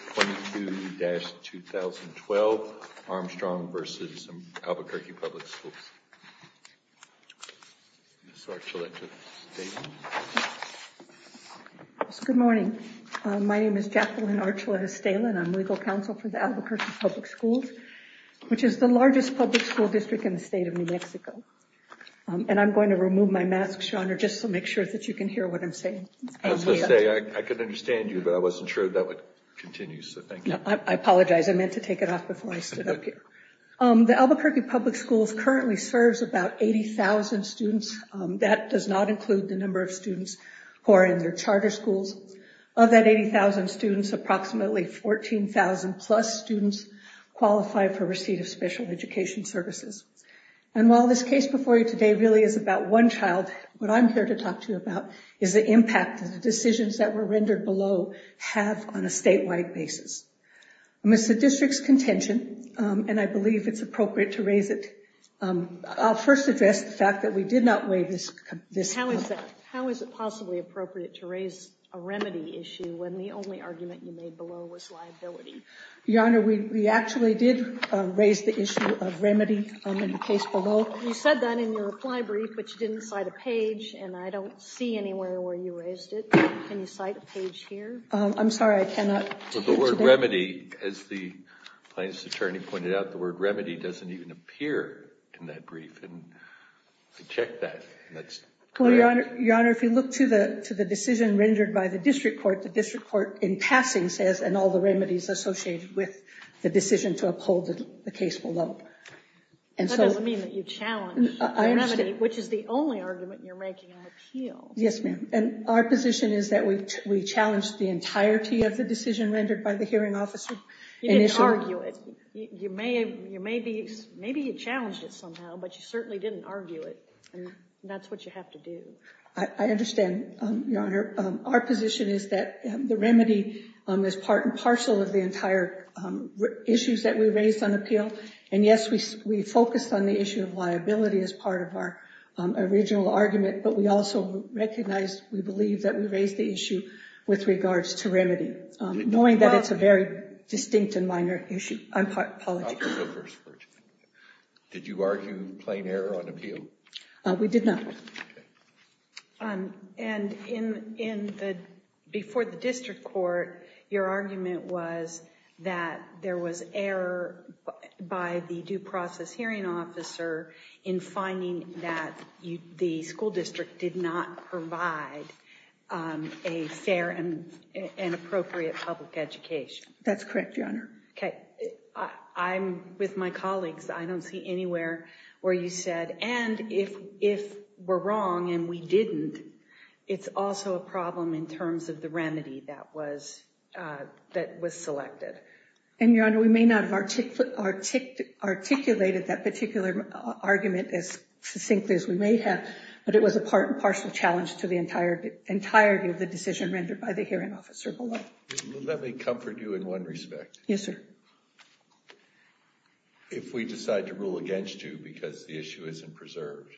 22-2012 Armstrong v. Albuquerque Public Schools Good morning. My name is Jacqueline Archuleta-Stalin. I'm legal counsel for the Albuquerque Public Schools, which is the largest public school district in the state of New Mexico. And I'm going to remove my mask, your honor, just to make sure that you can hear what I'm saying. I was going to say, I could understand you, but I wasn't sure that would continue, so thank you. I apologize. I meant to take it off before I stood up here. The Albuquerque Public Schools currently serves about 80,000 students. That does not include the number of students who are in their charter schools. Of that 80,000 students, approximately 14,000-plus students qualify for receipt of special education services. And while this case before you today really is about one child, what I'm here to talk to you about is the impact that the decisions that were rendered below have on a statewide basis. It's the district's contention, and I believe it's appropriate to raise it. I'll first address the fact that we did not weigh this. How is it possibly appropriate to raise a remedy issue when the only argument you made below was liability? Your honor, we actually did raise the issue of remedy in the case below. You said that in your reply brief, but you didn't cite a page, and I don't see anywhere where you raised it. Can you cite a page here? I'm sorry, I cannot. The word remedy, as the plaintiff's attorney pointed out, the word remedy doesn't even appear in that brief, and I checked that. Your honor, if you look to the decision rendered by the district court, the district court in passing says, and all the remedies associated with the decision to uphold the case below. That doesn't mean that you challenged the remedy, which is the only argument you're making on appeal. Yes, ma'am, and our position is that we challenged the entirety of the decision rendered by the hearing officer. You didn't argue it. Maybe you challenged it somehow, but you certainly didn't argue it, and that's what you have to do. I understand, your honor. Our position is that the remedy is part and parcel of the entire issues that we raised on appeal, and yes, we focused on the issue of liability as part of our original argument, but we also recognized, we believe, that we raised the issue with regards to remedy, knowing that it's a very distinct and minor issue. I apologize. Did you argue plain error on appeal? We did not. And before the district court, your argument was that there was error by the due process hearing officer in finding that the school district did not provide a fair and appropriate public education. Okay, I'm with my colleagues. I don't see anywhere where you said, and if we're wrong and we didn't, it's also a problem in terms of the remedy that was selected. And, your honor, we may not have articulated that particular argument as succinctly as we may have, but it was a part and parcel challenge to the entirety of the decision rendered by the hearing officer below. Let me comfort you in one respect. Yes, sir. If we decide to rule against you because the issue isn't preserved,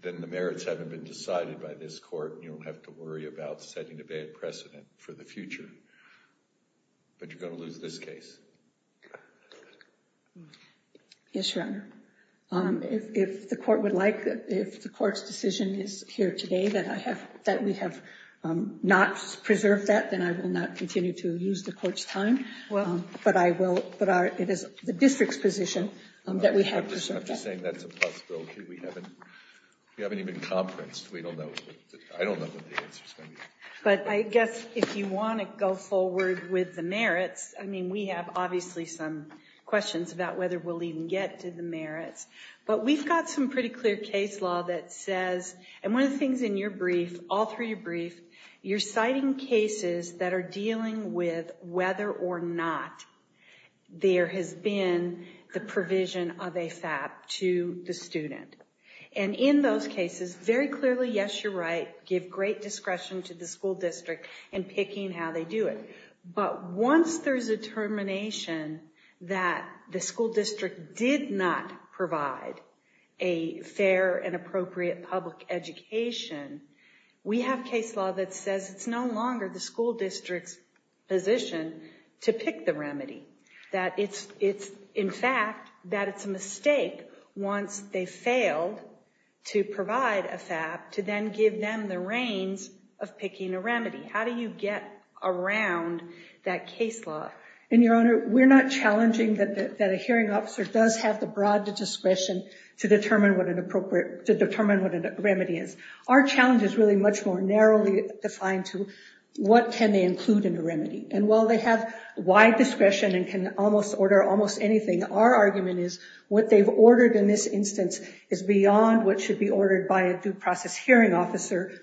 then the merits haven't been decided by this court, and you don't have to worry about setting a bad precedent for the future, but you're going to lose this case. Yes, your honor. If the court would like, if the court's decision is here today that we have not preserved that, then I will not continue to lose the court's time. But it is the district's position that we have preserved that. I'm just saying that's a possibility. We haven't even conferenced. I don't know what the answer is going to be. But I guess if you want to go forward with the merits, I mean, we have obviously some questions about whether we'll even get to the merits. But we've got some pretty clear case law that says, and one of the things in your brief, all through your brief, you're citing cases that are dealing with whether or not there has been the provision of a FAP to the student. And in those cases, very clearly, yes, you're right, give great discretion to the school district in picking how they do it. But once there's a termination that the school district did not provide a fair and appropriate public education, we have case law that says it's no longer the school district's position to pick the remedy. That it's, in fact, that it's a mistake once they failed to provide a FAP to then give them the reins of picking a remedy. How do you get around that case law? And, Your Honor, we're not challenging that a hearing officer does have the broad discretion to determine what a remedy is. Our challenge is really much more narrowly defined to what can they include in a remedy. And while they have wide discretion and can almost order almost anything, our argument is what they've ordered in this instance is beyond what should be ordered by a due process hearing officer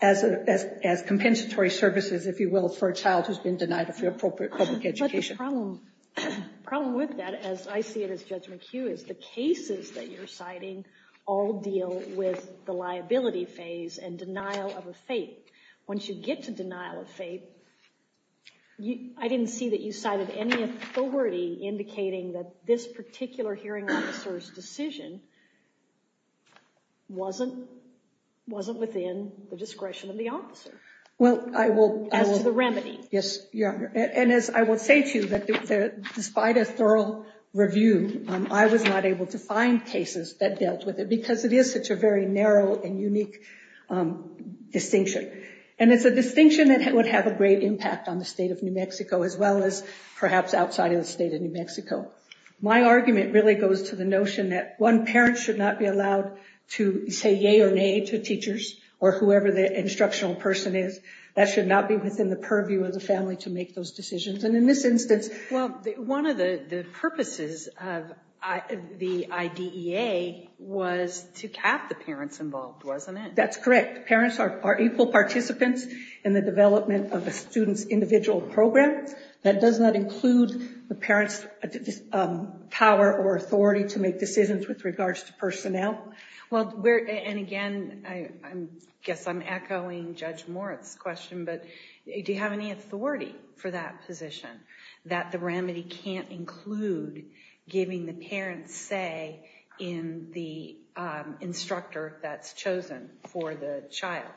as compensatory services, if you will, for a child who's been denied a fair and appropriate public education. But the problem with that, as I see it as Judge McHugh, is the cases that you're citing all deal with the liability phase and denial of a FAP. Once you get to denial of FAP, I didn't see that you cited any authority indicating that this particular hearing officer's decision wasn't within the discretion of the officer as to the remedy. Yes, Your Honor. And as I will say to you, that despite a thorough review, I was not able to find cases that dealt with it because it is such a very narrow and unique distinction. And it's a distinction that would have a great impact on the state of New Mexico as well as perhaps outside of the state of New Mexico. My argument really goes to the notion that one parent should not be allowed to say yea or nay to teachers or whoever the instructional person is. That should not be within the purview of the family to make those decisions. And in this instance- Well, one of the purposes of the IDEA was to cap the parents involved, wasn't it? That's correct. Parents are equal participants in the development of a student's individual program. That does not include the parents' power or authority to make decisions with regards to personnel. Well, and again, I guess I'm echoing Judge Moritz's question, but do you have any authority for that position, that the remedy can't include giving the parents say in the instructor that's chosen for the child?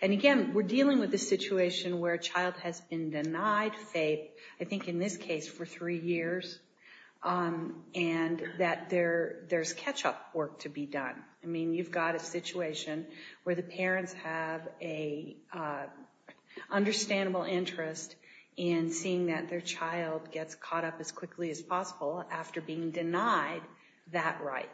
And again, we're dealing with a situation where a child has been denied FAPE, I think in this case for three years, and that there's catch-up work to be done. I mean, you've got a situation where the parents have an understandable interest in seeing that their child gets caught up as quickly as possible after being denied that right.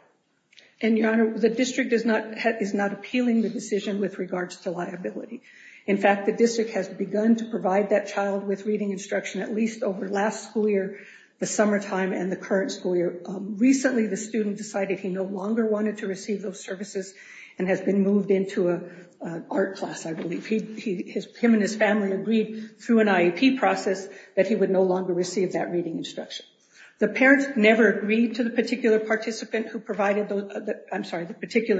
And, Your Honor, the district is not appealing the decision with regards to liability. In fact, the district has begun to provide that child with reading instruction at least over last school year, the summertime, and the current school year. Recently, the student decided he no longer wanted to receive those services and has been moved into an art class, I believe. Him and his family agreed through an IEP process that he would no longer receive that reading instruction. The parents never agreed to the particular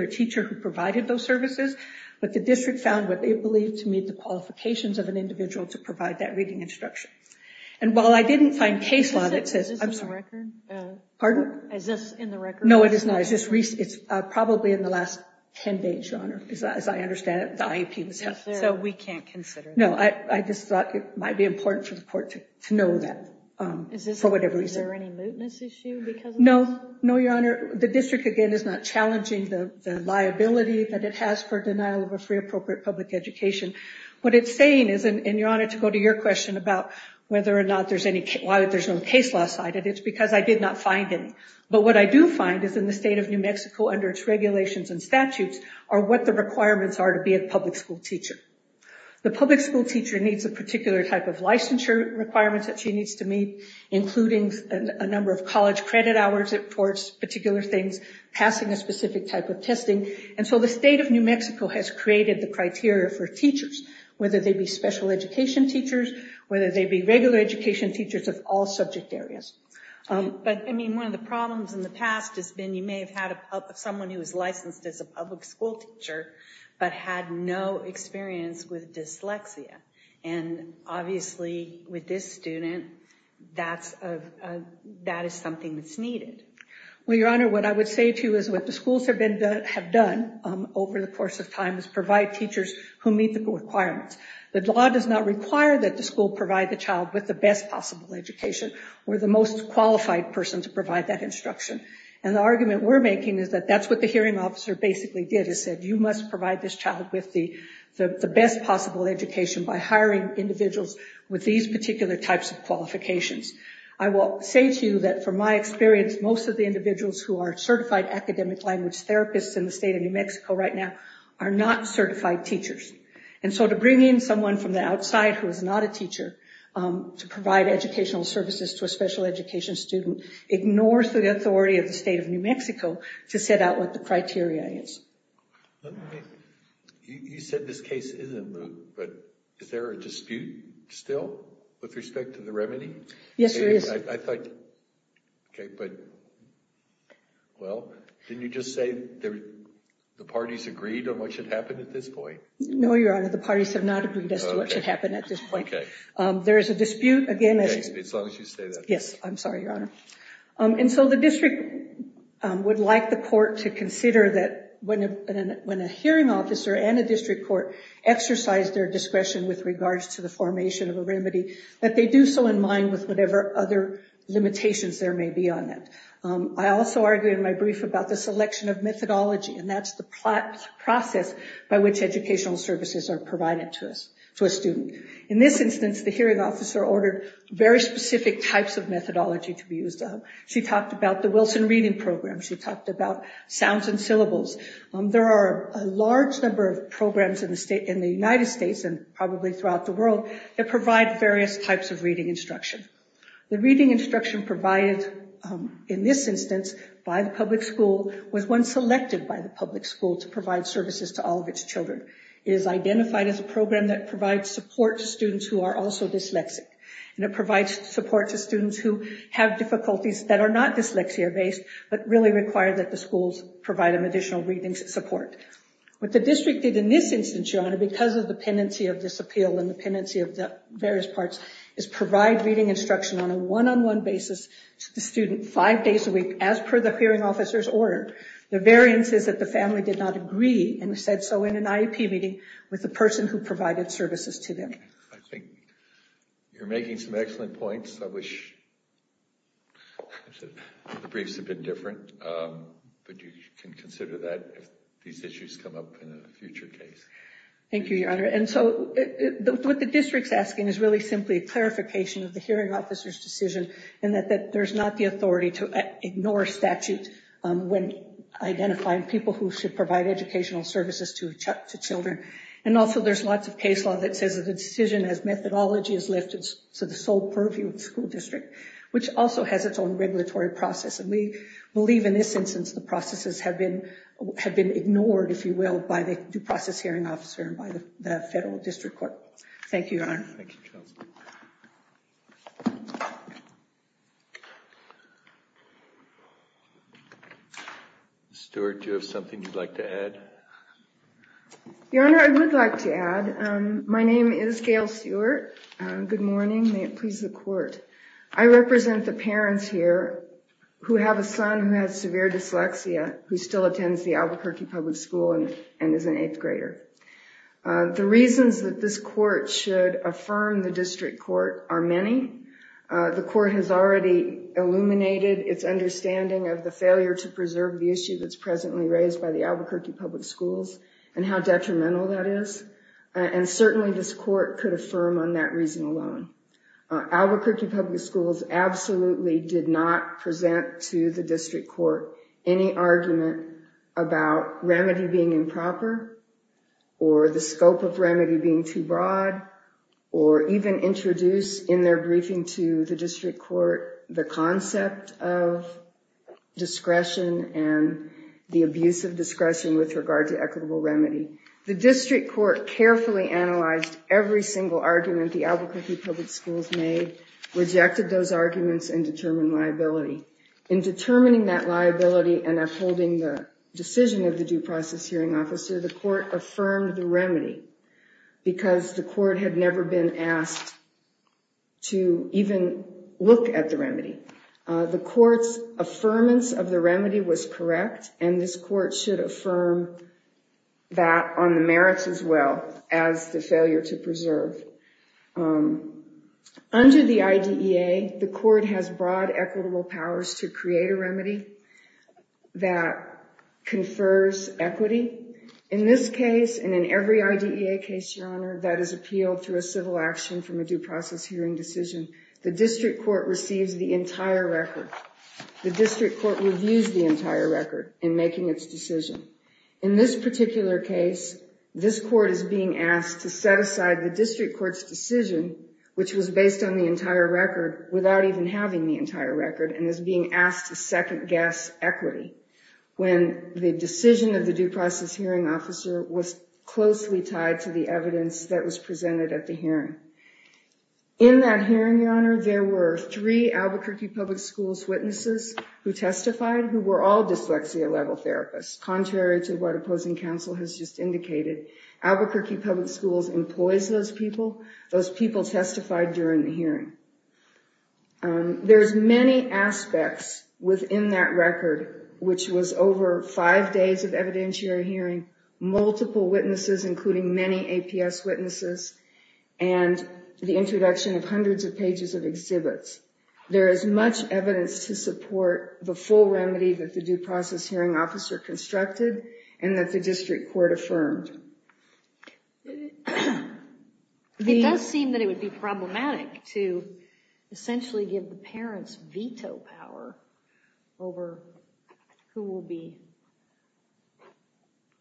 teacher who provided those services, but the district found what they believed to meet the qualifications of an individual to provide that reading instruction. And while I didn't find case law that says... Is this in the record? Pardon? Is this in the record? No, it is not. It's probably in the last 10 days, Your Honor, as I understand it. So we can't consider that. No, I just thought it might be important for the court to know that, for whatever reason. Is there any mootness issue because of this? No, Your Honor. The district, again, is not challenging the liability that it has for denial of a free, appropriate public education. What it's saying is, and Your Honor, to go to your question about whether or not there's any... Why there's no case law cited, it's because I did not find any. But what I do find is in the state of New Mexico, under its regulations and statutes, are what the requirements are to be a public school teacher. The public school teacher needs a particular type of licensure requirements that she needs to meet, including a number of college credit hours towards particular things, passing a specific type of testing. And so the state of New Mexico has created the criteria for teachers, whether they be special education teachers, whether they be regular education teachers of all subject areas. But, I mean, one of the problems in the past has been you may have had someone who is licensed as a public school teacher, but had no experience with dyslexia. And, obviously, with this student, that is something that's needed. Well, Your Honor, what I would say to you is what the schools have done over the course of time is provide teachers who meet the requirements. The law does not require that the school provide the child with the best possible education or the most qualified person to provide that instruction. And the argument we're making is that that's what the hearing officer basically did, is said you must provide this child with the best possible education by hiring individuals with these particular types of qualifications. I will say to you that, from my experience, most of the individuals who are certified academic language therapists in the state of New Mexico right now are not certified teachers. And so to bring in someone from the outside who is not a teacher to provide educational services to a special education student ignores the authority of the state of New Mexico to set out what the criteria is. You said this case isn't moved, but is there a dispute still with respect to the remedy? Yes, there is. Okay, but, well, didn't you just say the parties agreed on what should happen at this point? No, Your Honor, the parties have not agreed as to what should happen at this point. Okay. There is a dispute. Okay, as long as you say that. Yes, I'm sorry, Your Honor. And so the district would like the court to consider that when a hearing officer and a district court exercise their discretion with regards to the formation of a remedy, that they do so in mind with whatever other limitations there may be on that. I also argued in my brief about the selection of methodology, and that's the process by which educational services are provided to a student. In this instance, the hearing officer ordered very specific types of methodology to be used. She talked about the Wilson Reading Program. She talked about sounds and syllables. There are a large number of programs in the United States and probably throughout the world that provide various types of reading instruction. The reading instruction provided in this instance by the public school was one selected by the public school to provide services to all of its children. It is identified as a program that provides support to students who are also dyslexic, and it provides support to students who have difficulties that are not dyslexia-based but really require that the schools provide them additional reading support. What the district did in this instance, Your Honor, because of the pendency of this appeal and the pendency of the various parts, is provide reading instruction on a one-on-one basis to the student five days a week as per the hearing officer's order. The variance is that the family did not agree and said so in an IEP meeting with the person who provided services to them. I think you're making some excellent points. I wish the briefs had been different, but you can consider that if these issues come up in a future case. Thank you, Your Honor. And so what the district's asking is really simply a clarification of the hearing officer's decision and that there's not the authority to ignore statute when identifying people who should provide educational services to children. And also there's lots of case law that says that the decision as methodology is lifted to the sole purview of the school district, which also has its own regulatory process. And we believe in this instance the processes have been ignored, if you will, by the due process hearing officer and by the federal district court. Thank you, Your Honor. Thank you, Counsel. Ms. Stewart, do you have something you'd like to add? Your Honor, I would like to add. My name is Gail Stewart. Good morning. May it please the Court. I represent the parents here who have a son who has severe dyslexia, who still attends the Albuquerque Public School and is an eighth grader. The reasons that this court should affirm the district court are many. The court has already illuminated its understanding of the failure to preserve the issue that's presently raised by the Albuquerque Public Schools and how detrimental that is. And certainly this court could affirm on that reason alone. Albuquerque Public Schools absolutely did not present to the district court any argument about remedy being improper or the scope of remedy being too broad or even introduce in their briefing to the district court the concept of discretion and the abuse of discretion with regard to equitable remedy. The district court carefully analyzed every single argument the Albuquerque Public Schools made, rejected those arguments, and determined liability. In determining that liability and upholding the decision of the due process hearing officer, the court affirmed the remedy because the court had never been asked to even look at the remedy. The court's affirmance of the remedy was correct, and this court should affirm that on the merits as well as the failure to preserve. Under the IDEA, the court has broad equitable powers to create a remedy that confers equity. In this case and in every IDEA case, Your Honor, that is appealed through a civil action from a due process hearing decision, the district court receives the entire record. The district court reviews the entire record in making its decision. In this particular case, this court is being asked to set aside the district court's decision, which was based on the entire record without even having the entire record, and is being asked to second-guess equity when the decision of the due process hearing officer was closely tied to the evidence that was presented at the hearing. In that hearing, Your Honor, there were three Albuquerque Public Schools witnesses who testified who were all dyslexia-level therapists, contrary to what opposing counsel has just indicated. Albuquerque Public Schools employs those people. Those people testified during the hearing. There's many aspects within that record, which was over five days of evidentiary hearing, multiple witnesses, including many APS witnesses, and the introduction of hundreds of pages of exhibits. There is much evidence to support the full remedy that the due process hearing officer constructed and that the district court affirmed. It does seem that it would be problematic to essentially give the parents veto power over who will be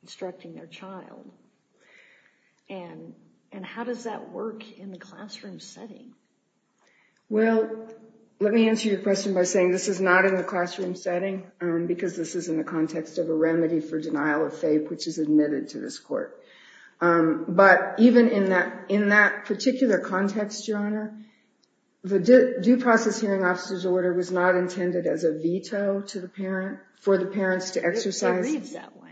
instructing their child. And how does that work in the classroom setting? Well, let me answer your question by saying this is not in the classroom setting, because this is in the context of a remedy for denial of faith, which is admitted to this court. But even in that particular context, Your Honor, the due process hearing officer's order was not intended as a veto for the parents to exercise. It reads that way.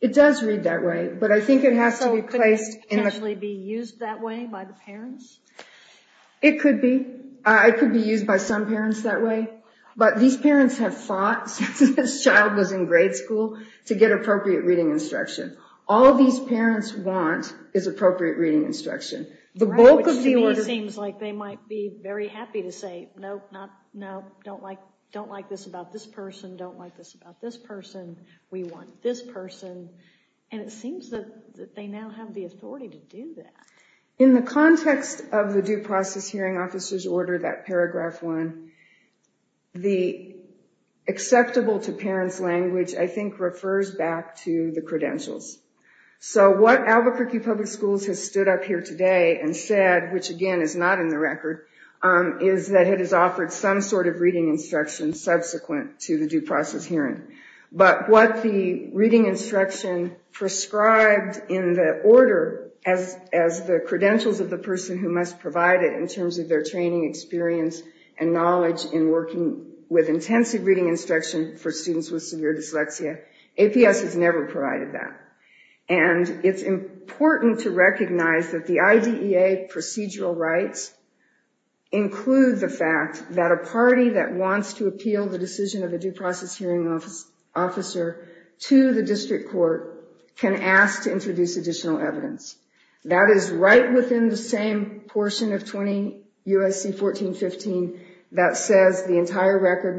It does read that way. So could it potentially be used that way by the parents? It could be. It could be used by some parents that way. But these parents have fought since this child was in grade school to get appropriate reading instruction. All these parents want is appropriate reading instruction. Which to me seems like they might be very happy to say, no, no, no, don't like this about this person, don't like this about this person. We want this person. And it seems that they now have the authority to do that. In the context of the due process hearing officer's order, that paragraph one, the acceptable to parents language I think refers back to the credentials. So what Albuquerque Public Schools has stood up here today and said, which again is not in the record, is that it has offered some sort of reading instruction subsequent to the due process hearing. But what the reading instruction prescribed in the order as the credentials of the person who must provide it in terms of their training experience and knowledge in working with intensive reading instruction for students with severe dyslexia, APS has never provided that. And it's important to recognize that the IDEA procedural rights include the fact that a party that wants to appeal the decision of a due process hearing officer to the district court can ask to introduce additional evidence. That is right within the same portion of 20 U.S.C. 1415 that says the entire record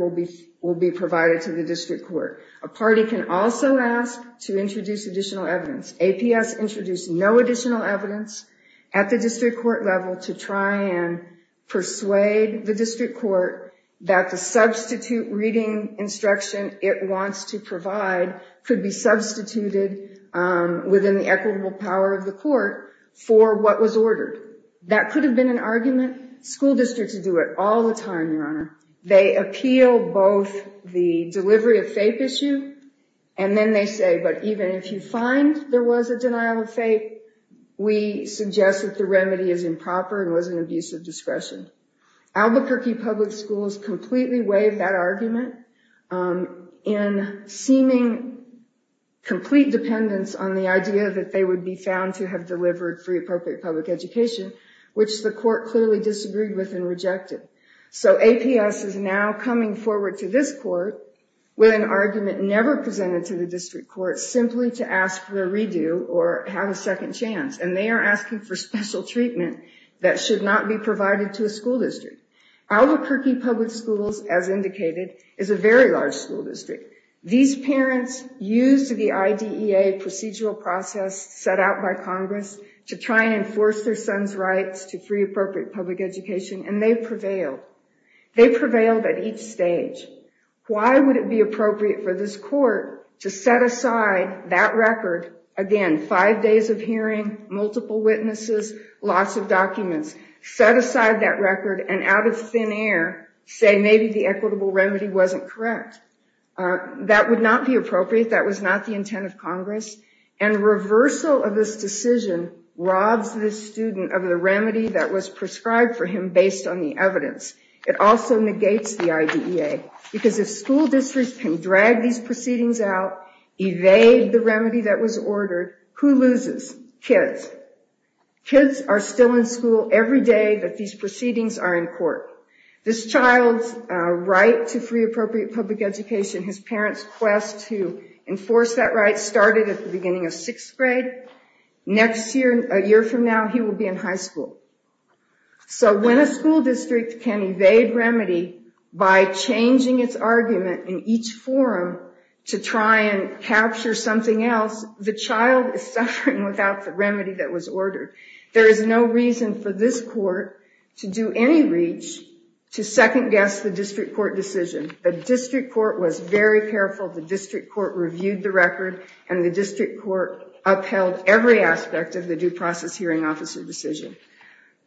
will be provided to the district court. A party can also ask to introduce additional evidence. APS introduced no additional evidence at the district court level to try and persuade the district court that the substitute reading instruction it wants to provide could be substituted within the equitable power of the court for what was ordered. That could have been an argument. School districts do it all the time, Your Honor. They appeal both the delivery of FAPE issue and then they say, but even if you find there was a denial of FAPE, we suggest that the remedy is improper and was an abuse of discretion. Albuquerque Public Schools completely waived that argument in seeming complete dependence on the idea that they would be found to have delivered free appropriate public education, which the court clearly disagreed with and rejected. So APS is now coming forward to this court with an argument never presented to the district court simply to ask for a redo or have a second chance. And they are asking for special treatment that should not be provided to a school district. Albuquerque Public Schools, as indicated, is a very large school district. These parents used the IDEA procedural process set out by Congress to try and enforce their son's rights to free appropriate public education and they prevailed. They prevailed at each stage. Why would it be appropriate for this court to set aside that record, again, five days of hearing, multiple witnesses, lots of documents, set aside that record and out of thin air say maybe the equitable remedy wasn't correct? That would not be appropriate. That was not the intent of Congress. And reversal of this decision robs this student of the remedy that was prescribed for him based on the evidence. It also negates the IDEA because if school districts can drag these proceedings out, evade the remedy that was ordered, who loses? Kids. Kids are still in school every day that these proceedings are in court. This child's right to free appropriate public education, his parents' quest to enforce that right started at the beginning of sixth grade. Next year, a year from now, he will be in high school. So when a school district can evade remedy by changing its argument in each forum to try and capture something else, the child is suffering without the remedy that was ordered. There is no reason for this court to do any reach to second-guess the district court decision. The district court was very careful. The district court reviewed the record, and the district court upheld every aspect of the due process hearing officer decision.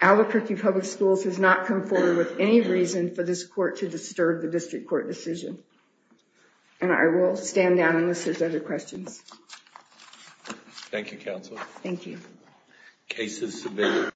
Albuquerque Public Schools has not come forward with any reason for this court to disturb the district court decision. And I will stand down unless there's other questions. Thank you, Counsel. Thank you. Cases submitted.